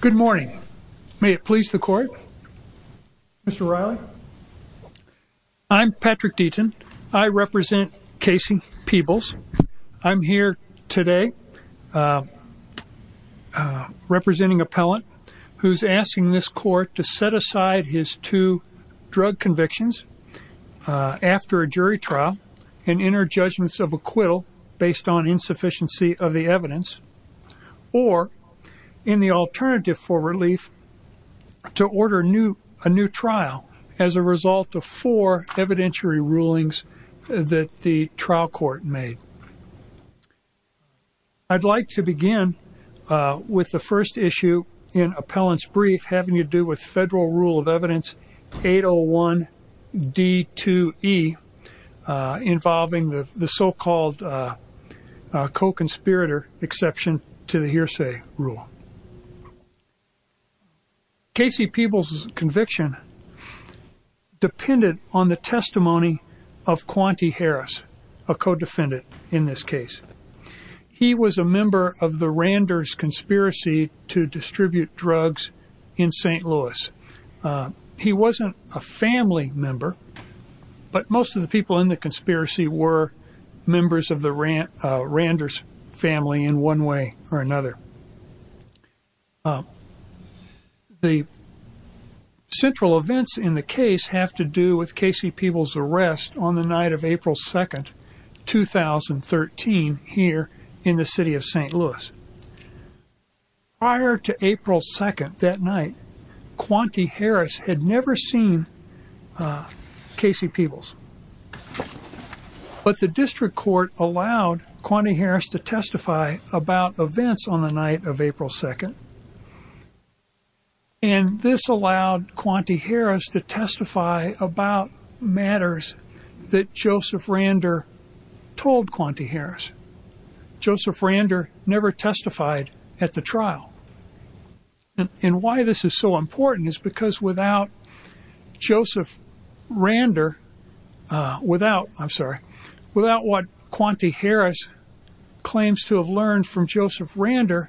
Good morning. May it please the court? Mr. Riley? I'm Patrick Deaton. I represent Casey Peebles. I'm here today representing appellant who's asking this court to set aside his two drug convictions after a jury trial and enter judgments of acquittal based on insufficiency of the evidence or in the alternative for relief to order a new trial as a result of four evidentiary rulings that the trial court made. I'd like to begin with the first issue in appellant's brief having to do with federal rule of evidence 801 D2E involving the so Casey Peebles' conviction depended on the testimony of Quante Harris, a co-defendant in this case. He was a member of the Randers conspiracy to distribute drugs in St. Louis. He wasn't a family member, but most of the people in the conspiracy were members of the Randers family in one way or another. The central events in the case have to do with Casey Peebles' arrest on the night of April 2nd, 2013 here in the city of St. Louis. Prior to April 2nd that night, Quante Harris had on the night of April 2nd. And this allowed Quante Harris to testify about matters that Joseph Rander told Quante Harris. Joseph Rander never testified at the trial. And why this is so important is because without Joseph Rander, without, I'm sorry, without what Quante Harris claims to have learned from Joseph Rander,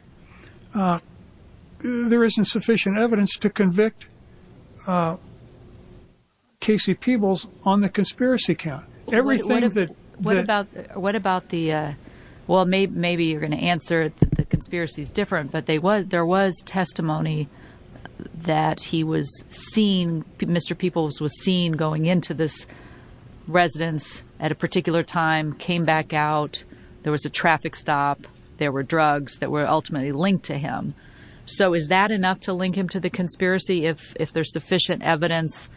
there isn't sufficient evidence to convict Casey Peebles on the conspiracy count. What about the, well maybe you're going to answer that the conspiracy is different, but there was testimony that he was seen, Mr. Rander, at a particular time, came back out, there was a traffic stop, there were drugs that were ultimately linked to him. So is that enough to link him to the conspiracy if there's sufficient evidence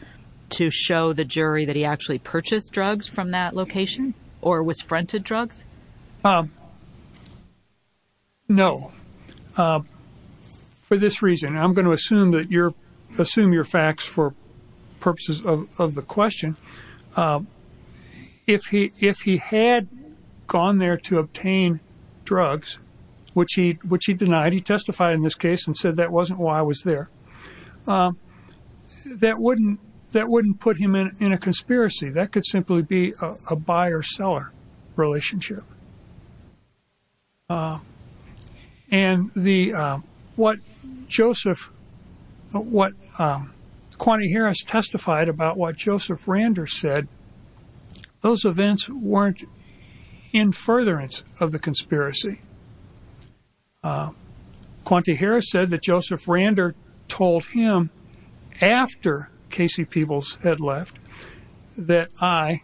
to show the jury that he actually purchased drugs from that location or was fronted drugs? No. For this reason, I'm going to assume that you're, assume your facts for purposes of the question, if he had gone there to obtain drugs, which he denied, he testified in this case and said that wasn't why I was there, that wouldn't put him in a conspiracy. That could simply be a buyer-seller relationship. And the, what Joseph, what Quante Harris testified about what Joseph Rander said, those events weren't in furtherance of the conspiracy. Quante Harris said that Joseph Rander told him after Casey Peebles had left that I,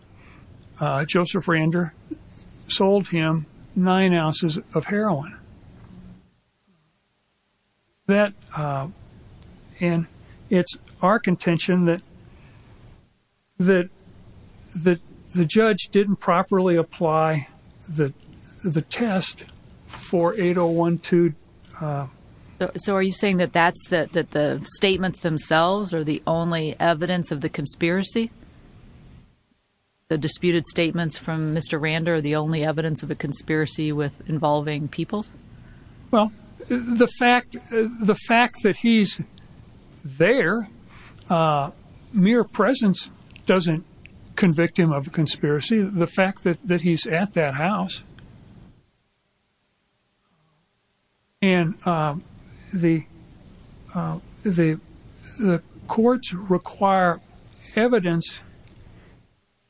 Joseph Rander, sold him nine ounces of heroin. That, and it's our contention that the judge didn't properly apply the test for 8012. So are you saying that that's, that the statements themselves are the only evidence of the conspiracy? The disputed statements from Mr. Rander are the only evidence of a conspiracy with involving Peebles? Well, the fact, the fact that he's there, mere presence doesn't convict him of a conspiracy. The fact that he's at that house and the courts require evidence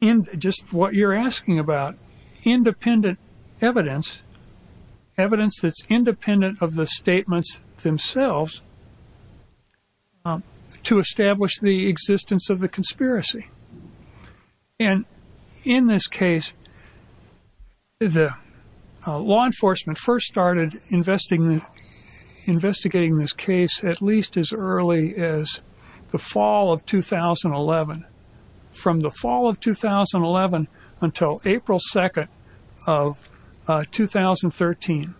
in just what you're asking about, independent evidence, evidence that's independent of the statements themselves to establish the existence of the conspiracy. And in this case, the law enforcement first started investigating this case at least as early as the fall of 2011. From the fall of 2011 until April 2nd of 2013,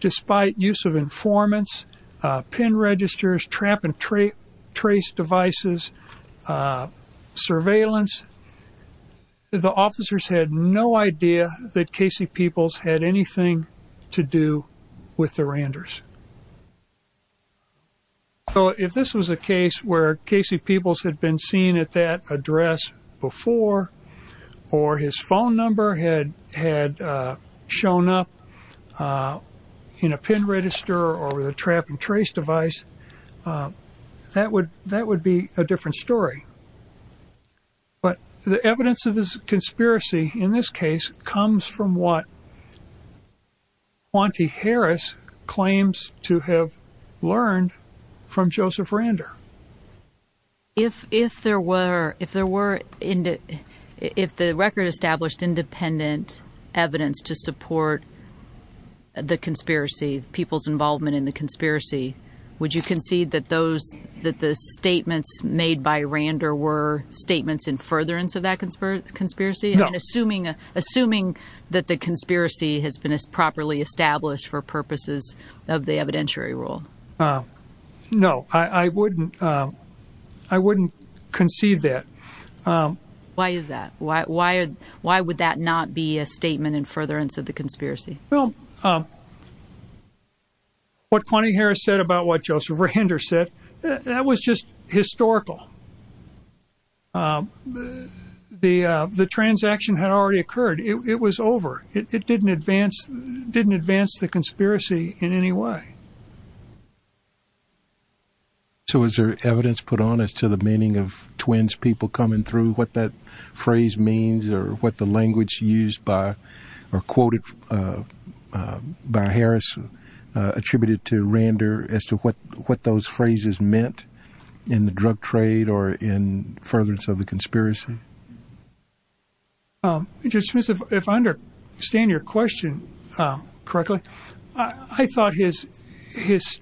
despite use of informants, pin registers, trap and trace devices, surveillance, the officers had no idea that Casey Peebles had anything to do with the Randers. So if this was a case where Casey Peebles had been seen at that address before or his phone number had shown up in a pin register or with a trap and trace device, that would be a different story. But the evidence of this conspiracy in this case comes from what Quante Harris claims to have learned from Joseph Rander. If there were, if there were, if the record established independent evidence to support the conspiracy, Peebles' involvement in the conspiracy, would you concede that those, that the statements made by Rander were statements in furtherance of that conspiracy? No. Assuming that the conspiracy has been properly established for purposes of the evidentiary rule. No, I wouldn't, I wouldn't concede that. Why is that? Why would that not be a statement in furtherance of the conspiracy? Well, what Quante Harris said about what Joseph Rander said, that was just historical. The, the transaction had already occurred. It was over. It didn't advance, didn't advance the conspiracy in any way. So is there evidence put on as to the meaning of twins people coming through, what that phrase means or what the language used by or quoted by Harris attributed to Rander as to what those phrases meant in the drug trade or in furtherance of the conspiracy? Just, if I understand your question correctly, I thought his, his,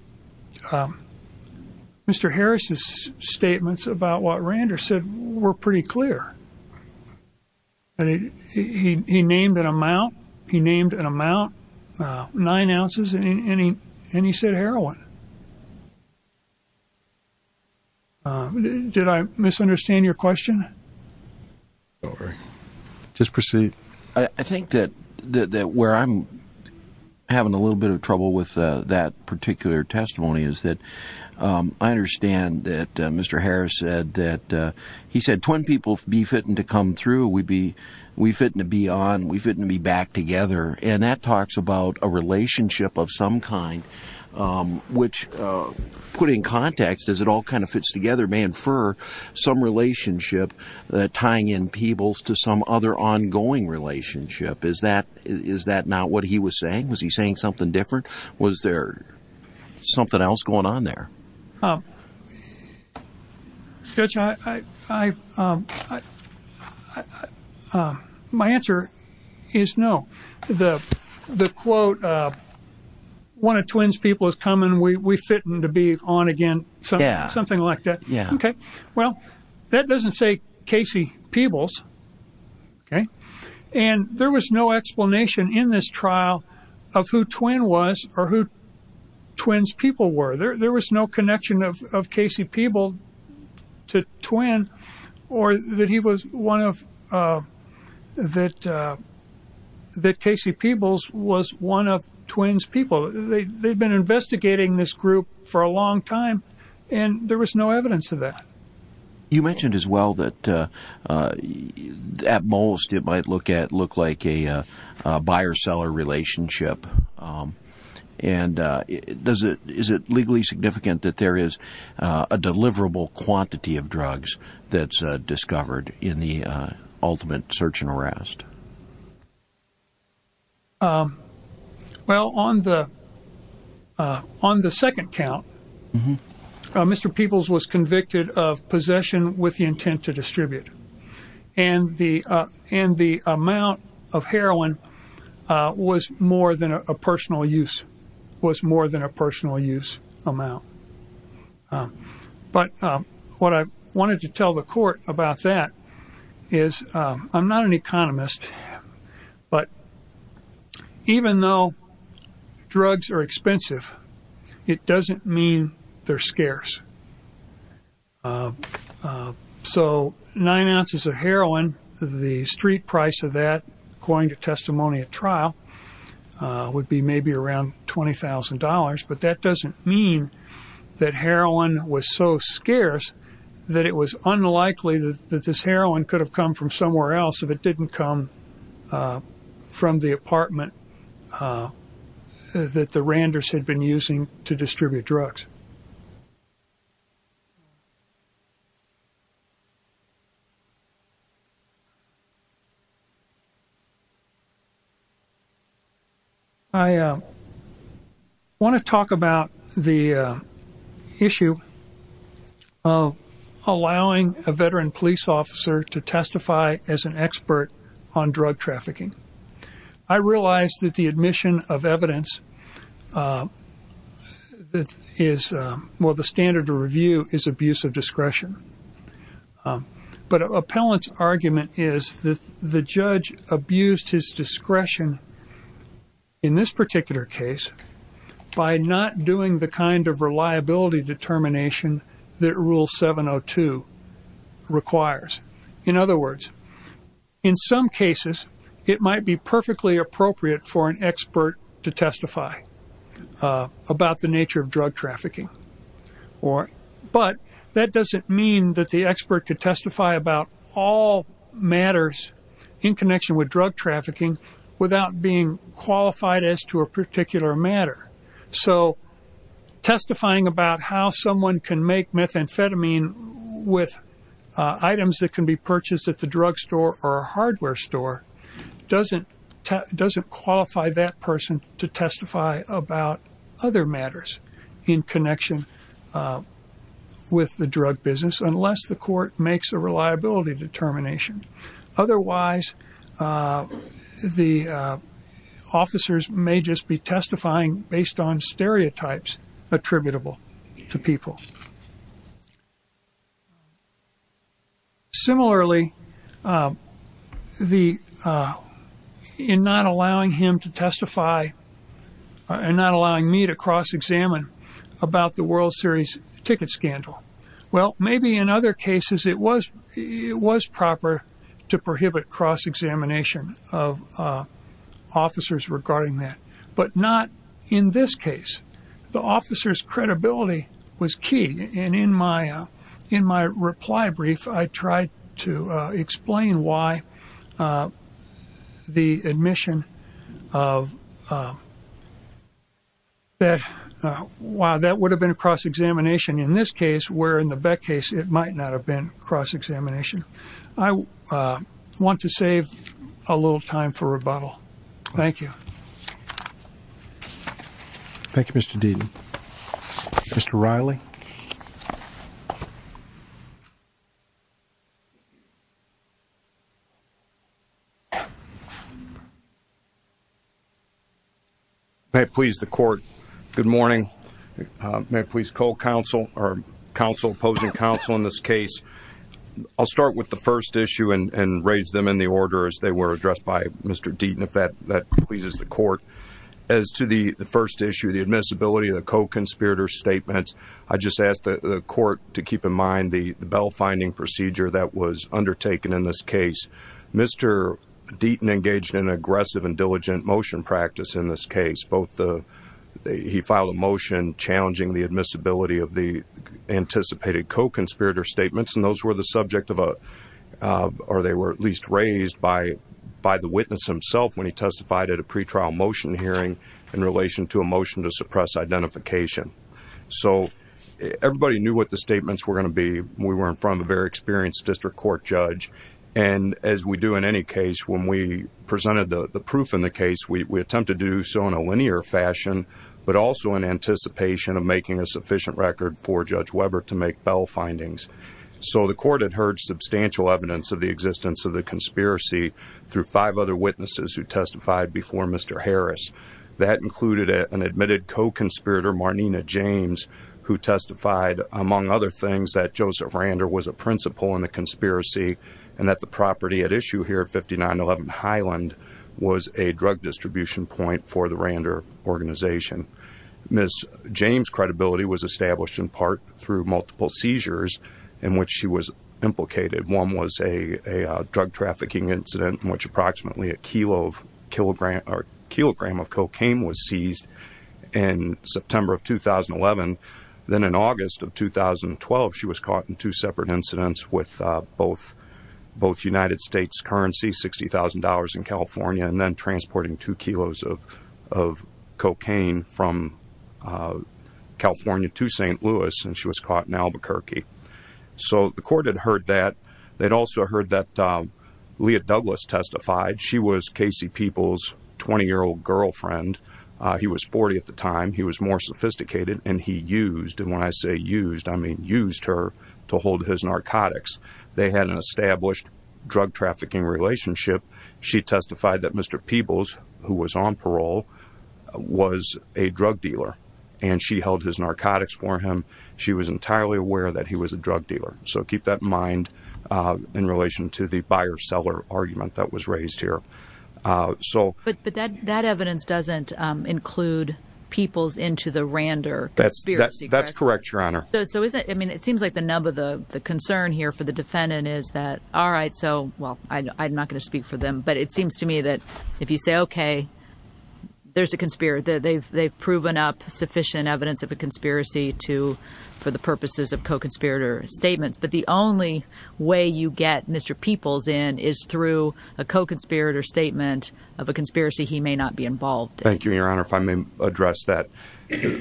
Mr. Harris's statements about what Rander said were pretty clear. And he, he, he named an amount, he named an amount, nine ounces, and he, and he said heroin. Did I misunderstand your question? Just proceed. I think that, that, that where I'm having a little bit of trouble with that particular testimony is that I understand that Mr. Harris said that, he said twin people, be fitting to come through, we'd be, we fit in to be on, we fit in to be back together. And that talks about a relationship of some kind, which put in context, as it all kind of fits together, may infer some relationship, tying in people's to some other ongoing relationship. Is that, is that not what he was saying? Was he saying something different? Was there something else going on there? Um, Judge, I, I, um, uh, um, my answer is no. The, the quote, uh, one of twins people is coming, we, we fit in to be on again, something like that. Okay. Well, that doesn't say Casey Peebles. Okay. And there was no explanation in this trial of who twin was or who twins people were. There, there was no connection of, of Casey Peebles to twin or that he was one of, uh, that, uh, that Casey Peebles was one of twins people. They, they'd been investigating this group for a long time and there was no evidence of that. You mentioned as well that, uh, uh, at most it might look at, look like a, uh, a buyer seller relationship. Um, and, uh, does it, is it legally significant that there is a deliverable quantity of drugs that's discovered in the, uh, ultimate search and arrest? Um, well, on the, uh, on the second count, uh, Mr. Peebles was convicted of possession with the intent to distribute and the, uh, and the amount of heroin, uh, was more than a personal use, was more than a personal use amount. Um, but, um, what I wanted to tell the court about that is, um, I'm not an economist, but even though drugs are expensive, it doesn't mean they're scarce. Uh, uh, so nine ounces of heroin, the street price of that, according to testimony at trial, uh, would be maybe around $20,000, but that doesn't mean that heroin was so scarce that it was unlikely that this heroin could have come from somewhere else if it didn't come, uh, from the apartment, uh, that the Randers had been using to distribute drugs. I, uh, want to talk about the, uh, issue of allowing a veteran police officer to testify as an expert on drug trafficking. I realized that the admission of evidence, uh, that is, um, well, the standard to review is abuse of discretion. Um, but appellant's argument is that the judge abused his discretion in this particular case by not doing the kind of in some cases it might be perfectly appropriate for an expert to testify, uh, about the nature of drug trafficking or, but that doesn't mean that the expert could testify about all matters in connection with drug trafficking without being qualified as to a particular matter. So testifying about how someone can make methamphetamine with, uh, items that can be purchased at the drug store or a hardware store doesn't te- doesn't qualify that person to testify about other matters in connection, uh, with the drug business unless the court makes a reliability determination. Otherwise, uh, the, uh, officers may just be testifying based on stereotypes attributable to people. Similarly, um, the, uh, in not allowing him to testify and not allowing me to cross-examine about the World Series ticket scandal. Well, maybe in other cases it was, it was proper to prohibit cross-examination of, uh, officers regarding that, but not in this case. The officer's credibility was key. And in my, uh, in my reply brief, I tried to, uh, explain why, uh, the admission of, uh, that, uh, while that would have been a cross-examination in this case, where in the Beck case, it might not have been cross-examination. I, uh, want to save a little time for rebuttal. Thank you. Thank you, Mr. Deaton. Mr. Reilly. May it please the court. Good morning. Uh, may it please co-counsel or counsel, opposing counsel in this case. I'll start with the first issue and, and raise them in the order as they were addressed by Mr. Deaton, if that, that pleases the court. As to the first issue, the admissibility of the co-conspirator statements, I just asked the court to keep in mind the, the bell-finding procedure that was undertaken in this case. Mr. Deaton engaged in aggressive and diligent motion practice in this case. Both the, he filed a motion challenging the admissibility of the anticipated co-conspirator statements, and those were the subject of a, uh, or they were at least raised by, by the witness himself when he testified at a pretrial motion hearing in relation to a identification. So everybody knew what the statements were going to be. We were in front of a very experienced district court judge. And as we do in any case, when we presented the proof in the case, we attempted to do so in a linear fashion, but also in anticipation of making a sufficient record for Judge Weber to make bell findings. So the court had heard substantial evidence of the existence of the conspiracy through five other witnesses who testified before Mr. Harris. That included an admitted co-conspirator, Marnina James, who testified among other things that Joseph Rander was a principal in the conspiracy and that the property at issue here at 5911 Highland was a drug distribution point for the Rander organization. Ms. James' credibility was established in part through multiple seizures in which she was implicated. One was a, a drug cocaine was seized in September of 2011. Then in August of 2012, she was caught in two separate incidents with, uh, both, both United States currency, $60,000 in California, and then transporting two kilos of, of cocaine from, uh, California to St. Louis. And she was caught in Albuquerque. So the court had heard that they'd also heard that, um, Leah Douglas testified. She was Casey Peebles' 20 year old girlfriend. Uh, he was 40 at the time. He was more sophisticated and he used, and when I say used, I mean, used her to hold his narcotics. They had an established drug trafficking relationship. She testified that Mr. Peebles who was on parole was a drug dealer and she held his narcotics for him. She was entirely aware that he was a drug dealer. So But, but that, that evidence doesn't include Peebles into the Rander conspiracy, correct? That's correct, Your Honor. So, so is it, I mean, it seems like the nub of the concern here for the defendant is that, all right, so, well, I'm not going to speak for them, but it seems to me that if you say, okay, there's a conspiracy, they've, they've proven up sufficient evidence of a conspiracy to, for the purposes of co-conspirator statements. But the only way you get Mr. Peebles in is through a co-conspirator statement of a conspiracy he may not be involved in. Thank you, Your Honor, if I may address that.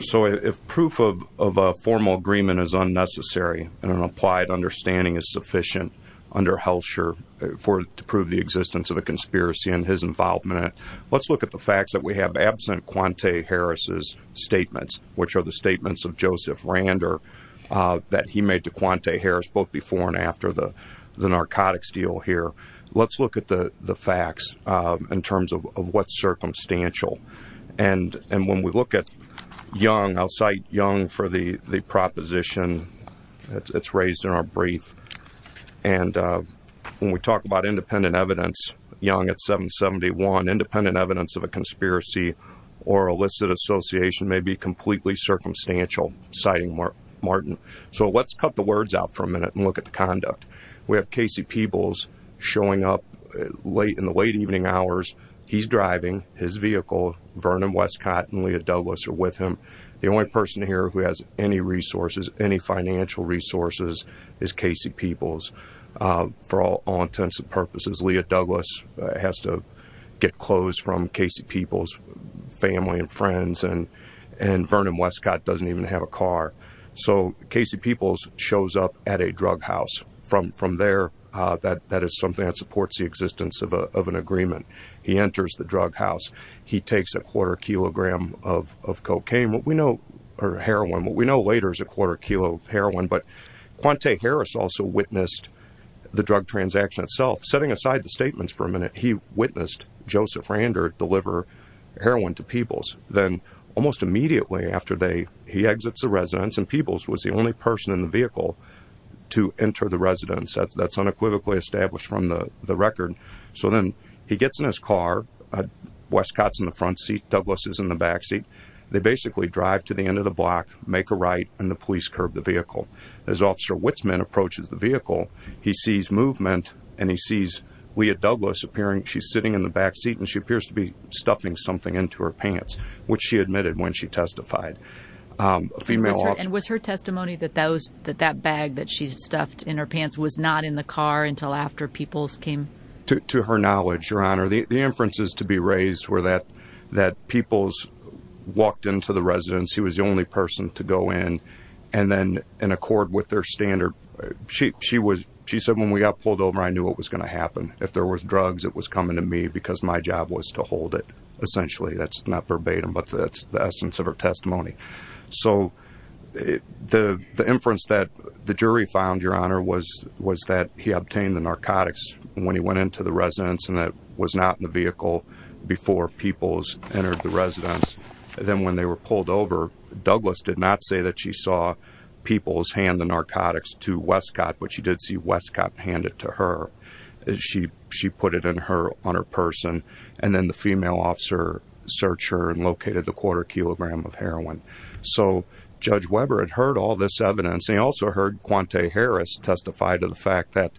So if proof of, of a formal agreement is unnecessary and an applied understanding is sufficient under Hellscher for, to prove the existence of a conspiracy and his involvement in it, let's look at the facts that we have absent Quante Harris's statements, which are the statements of Joseph Rander, uh, that he made to Quante Harris, both before and after the, the narcotics deal here. Let's look at the, the facts, uh, in terms of what's circumstantial. And, and when we look at Young, I'll cite Young for the, the proposition that's raised in our brief. And, uh, when we talk about independent evidence, Young at 771, independent evidence of a conspiracy or illicit association may be completely circumstantial, citing Martin. So let's cut the words out for a minute and look at the conduct. We have Casey Peebles showing up late in the late evening hours. He's driving his vehicle. Vernon Westcott and Leah Douglas are with him. The only person here who has any resources, any financial resources is Casey Peebles, uh, for all, all intents and purposes. Leah Douglas has to get clothes from Casey Peebles family and friends and, and Vernon Westcott doesn't even have a car. So Casey Peebles shows up at a drug house from, from there. Uh, that, that is something that supports the existence of a, of an agreement. He enters the drug house. He takes a quarter kilogram of, of cocaine. What we know are heroin. What we know later is a quarter kilo heroin, but Quante Harris also witnessed the drug transaction itself, setting aside the statements for a minute. He witnessed Joseph Rander deliver heroin to Peebles. Then almost immediately after they, he exits the residence and Peebles was the only person in the vehicle to enter the residence. That's unequivocally established from the, the record. So then he gets in his car, uh, Westcott's in the front seat. Douglas is in the backseat. They basically drive to the end of the block, make a right, and the police curb the vehicle. As officer Witzman approaches the vehicle, he sees movement and he sees Leah Douglas appearing. She's sitting in the backseat and she appears to be stuffing something into her pants, which she admitted when she testified. And was her testimony that those, that that bag that she stuffed in her pants was not in the car until after Peebles came? To, to her knowledge, your honor, the inferences to be raised were that, that Peebles walked into the residence. He was the only person to go in and then in accord with their she said, when we got pulled over, I knew what was going to happen. If there was drugs, it was coming to me because my job was to hold it. Essentially. That's not verbatim, but that's the essence of her testimony. So the, the inference that the jury found, your honor, was, was that he obtained the narcotics when he went into the residence and that was not in the vehicle before Peebles entered the residence. Then when they were pulled over, Douglas did not say that she saw Peebles hand the narcotics to Westcott, but she did see Westcott hand it to her. She, she put it in her, on her person. And then the female officer searched her and located the quarter kilogram of heroin. So judge Weber had heard all this evidence. And he also heard Quante Harris testified to the fact that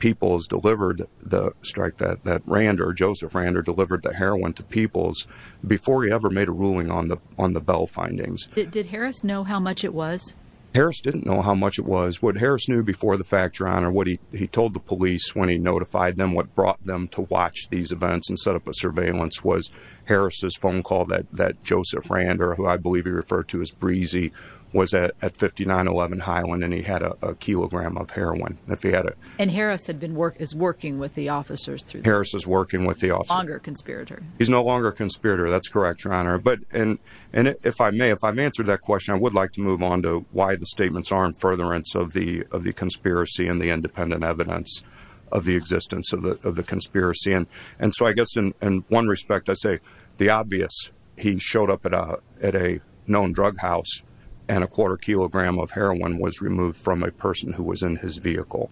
Peebles delivered the strike that, that Rand or Joseph Rander delivered the heroin to Peebles before he ever made a ruling on the, on the Bell findings. Did Harris know how much it was? Harris didn't know how much it was. What Harris knew before the fact, your honor, what he, he told the police when he notified them, what brought them to watch these events and set up a surveillance was Harris's phone call that, that Joseph Rander, who I believe he referred to as breezy was at, at 5911 Highland. And he had a kilogram of heroin if he had it. And Harris had been working, is working with the officers through this. Harris is working with the officers. He's no longer a conspirator. He's no longer a conspirator. That's correct, your honor. But, and if I may, if I've answered that question, I would like to move on to why the statements aren't furtherance of the, of the conspiracy and the independent evidence of the existence of the, of the conspiracy. And, and so I guess in one respect, I say the obvious, he showed up at a, at a known drug house and a quarter kilogram of heroin was removed from a person who was in his vehicle,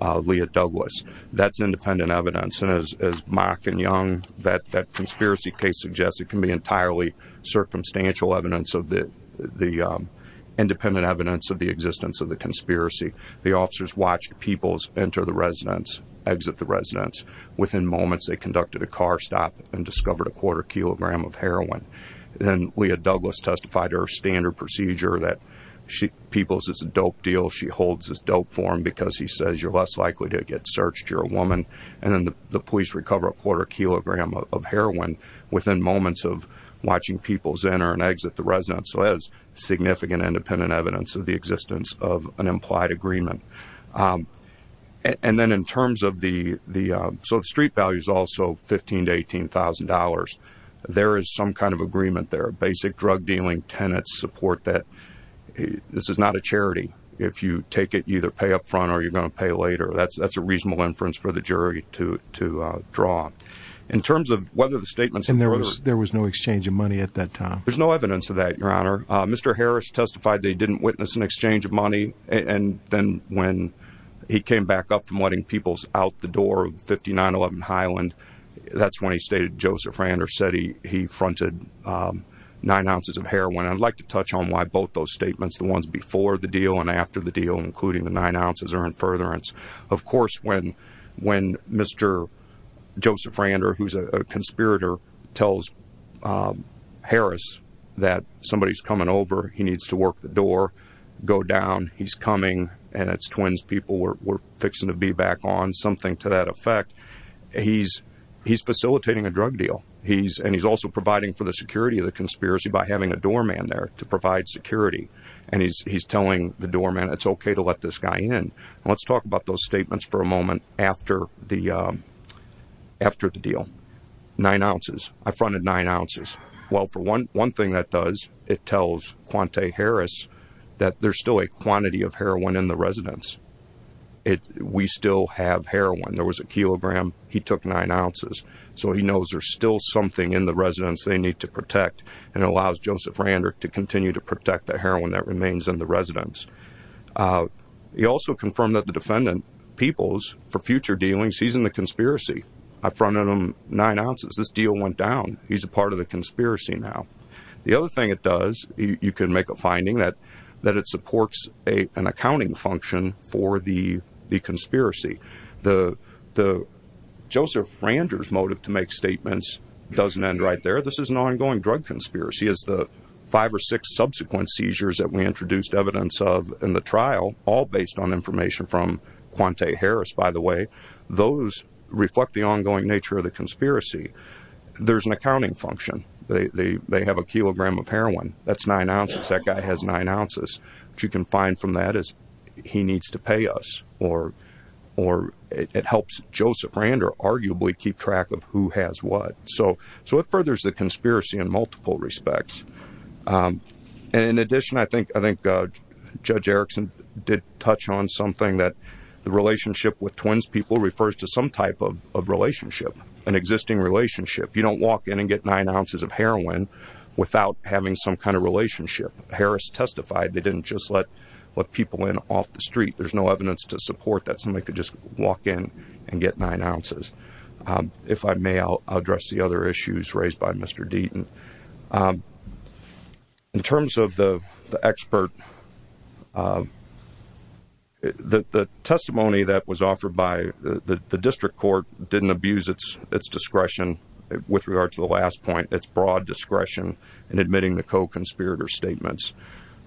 Leah Douglas, that's independent evidence. And as, as Mark and Young, that, that conspiracy case suggests it can be entirely circumstantial evidence of the, the independent evidence of the existence of the conspiracy. The officers watched Peoples enter the residence, exit the residence. Within moments, they conducted a car stop and discovered a quarter kilogram of heroin. And Leah Douglas testified her standard procedure that she, Peoples is a dope deal. She holds this dope for him because he says you're less likely to get searched. You're a woman. And then the police recover a quarter kilogram of heroin within moments of watching Peoples enter and exit the residence. So that's significant independent evidence of the existence of an implied agreement. And then in terms of the, the, so the street value is also 15 to $18,000. There is some kind of agreement there. Basic drug dealing tenants support that this is not a charity. If you take it, you either pay up front or you're going to pay later. That's, that's a reasonable inference for the jury to, to draw in terms of whether the statements. And there was, there was no exchange of money at that time. There's no evidence of that. Your honor. Mr. Harris testified. They didn't witness an exchange of money. And then when he came back up from letting Peoples out the door of 5911 Highland, that's when he stated Joseph Rand or said he, he fronted nine ounces of heroin. I'd like to touch on why both those statements, the ones before the deal and after the deal, including the nine ounces are in furtherance. Of course, when, when Mr. Joseph Rand or who's a conspirator tells Harris that somebody is coming over, he needs to work the door go down. He's coming and it's twins. People were fixing to be back on something to that effect. He's, he's facilitating a drug deal. He's, and he's also providing for the security of the conspiracy by having a doorman there to provide security. And he's, he's telling the doorman, it's okay to let this guy in. And let's talk about those statements for a moment after the, um, after the deal, nine ounces, I fronted nine ounces. Well, for one, one thing that does, it tells Quante Harris that there's still a quantity of heroin in the residence. It, we still have heroin. There was a kilogram. He took nine ounces. So he knows there's still something in the residence they need to protect and allows Joseph Rand or to continue to protect the heroin that remains in the residence. Uh, he also confirmed that the defendant people's for future dealings, he's in the conspiracy. I fronted them nine ounces. This deal went down. He's a part of the conspiracy. Now, the other thing it does, you can make a finding that, that it supports a, an accounting function for the, the conspiracy, the, the Randers motive to make statements doesn't end right there. This is an ongoing drug conspiracy is the five or six subsequent seizures that we introduced evidence of in the trial, all based on information from Quante Harris, by the way, those reflect the ongoing nature of the conspiracy. There's an accounting function. They, they, they have a kilogram of heroin. That's nine ounces. That guy has nine ounces, but you can find from that is he needs to pay us or, or it helps Joseph Rand or arguably keep track of who has what. So, so it furthers the conspiracy in multiple respects. Um, and in addition, I think, I think, uh, judge Erickson did touch on something that the relationship with twins people refers to some type of, of relationship, an existing relationship. You don't walk in and get nine ounces of heroin without having some kind of relationship. Harris testified. They didn't just let, let people in off the street. There's no evidence to support that somebody could just walk in and get nine ounces. Um, if I may, I'll address the other issues raised by Mr. Deaton, um, in terms of the, the expert, um, the, the testimony that was offered by the district court didn't abuse it's, it's discretion with regard to the last point, it's broad discretion and admitting the co-conspirator statements.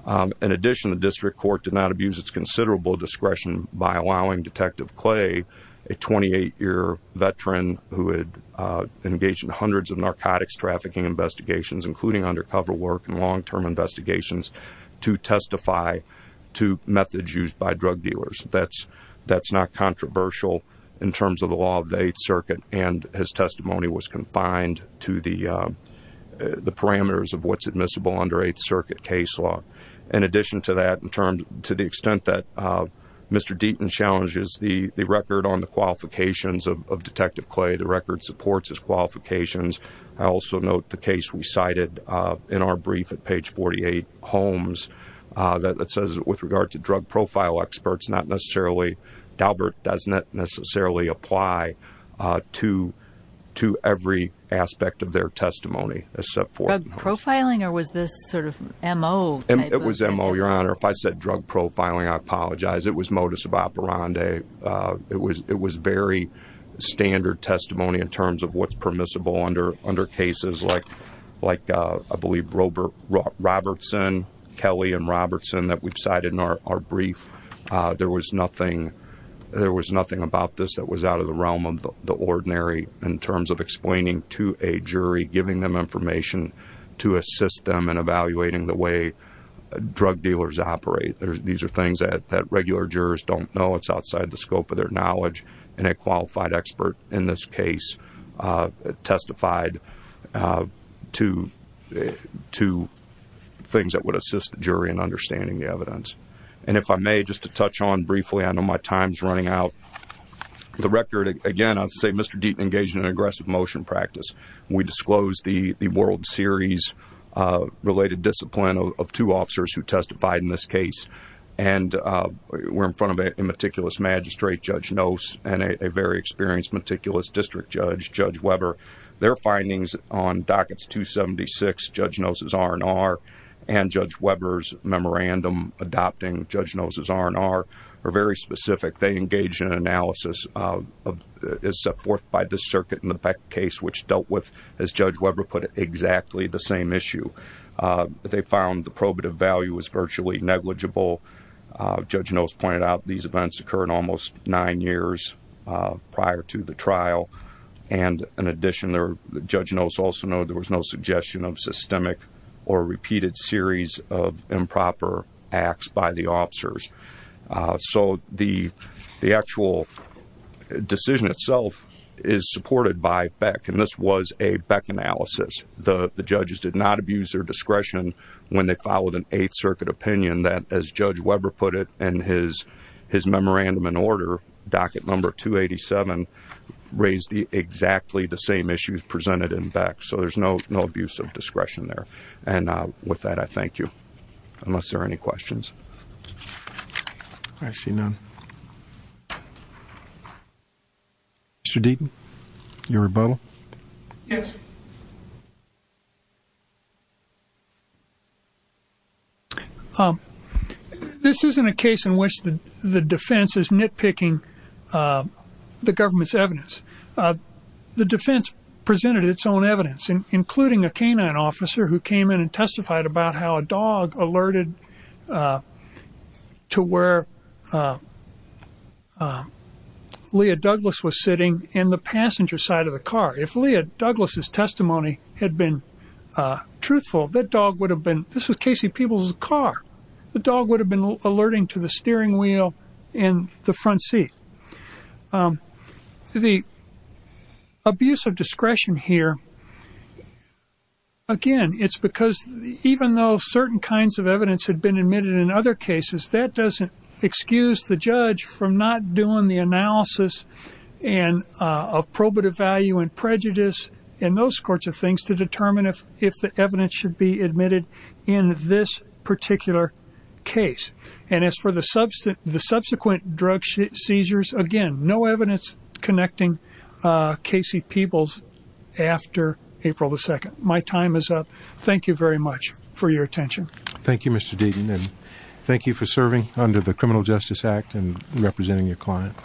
Um, in addition, the district court did not use it's considerable discretion by allowing detective clay, a 28 year veteran who had, uh, engaged in hundreds of narcotics trafficking investigations, including undercover work and long-term investigations to testify to methods used by drug dealers. That's, that's not controversial in terms of the law of the eighth circuit. And his testimony was confined to the, um, the parameters of what's admissible under eighth circuit case law. In addition to that, in terms to the extent that, uh, Mr. Deaton challenges the record on the qualifications of, of detective clay, the record supports his qualifications. I also note the case we cited, uh, in our brief at page 48 homes, uh, that, that says with regard to drug profile experts, not necessarily Dalbert, doesn't necessarily apply, uh, to, to every aspect of their testimony. Except for profiling or was this sort of MO? It was MO your honor. If I said drug profiling, I apologize. It was modus operandi. Uh, it was, it was very standard testimony in terms of what's permissible under, under cases like, like, uh, I believe Robert Robertson, Kelly and Robertson that we've cited in our, our brief. Uh, there was nothing, there was nothing about this that was out of the realm of the ordinary in terms of explaining to a jury, giving them information to assist them in evaluating the way drug dealers operate. There's, these are things that, that regular jurors don't know. It's outside the scope of their knowledge and a qualified expert in this case, uh, testified, uh, to, to things that would assist the jury in understanding the evidence. And if I may, just to touch on briefly, I know my time's running out. The record again, I would say Mr. Deaton engaged in an aggressive motion practice. We disclosed the, the world series, uh, related discipline of two officers who testified in this case. And, uh, we're in front of a meticulous magistrate judge knows and a very experienced meticulous district judge, judge Weber, their findings on dockets, two 76 judge knows his RNR and judge Weber's memorandum adopting judge knows his RNR are very specific. They engaged in analysis, uh, is set forth by the circuit in the back case, which dealt with as judge Weber put it exactly the same issue. Uh, they found the probative value was virtually negligible. Uh, judge knows pointed out these events occur in almost nine years, uh, prior to the trial. And in addition, there judge knows also know there was no suggestion of systemic or repeated series of improper acts by the officers. Uh, so the, the actual decision itself is supported by Beck. And this was a Beck analysis. The judges did not abuse their discretion when they followed an eighth circuit opinion that as judge Weber put it and his, his memorandum in order, docket number two 87 raised the exactly the same issues presented in Beck. So there's no, no abuse of discretion there. And, uh, with that, I thank you unless there are any questions. I see none. Mr. Deaton, your rebuttal. Yes. Um, this isn't a case in which the defense is nitpicking, uh, the government's evidence. Uh, the defense presented its own evidence and including a canine officer who came in and testified about how a dog alerted, uh, to where, uh, uh, Leah Douglas was sitting in the passenger side of the car. If Leah Douglas's testimony had been, uh, truthful, that dog would have been, this was Casey people's car. The dog would have been alerting to the steering wheel in the front seat. Um, the abuse of discretion here, again, it's because even though certain kinds of evidence had been admitted in other cases that doesn't excuse the judge from not doing the analysis and, uh, of probative value and prejudice and those sorts of things to determine if, if the evidence should be admitted in this particular case. And as for the substance, the subsequent drug seizures, again, no evidence connecting, uh, Casey people's after April the second, my time is up. Thank you very much for your attention. Thank you, Mr. Deaton. And thank you for serving under the criminal justice act and representing your client.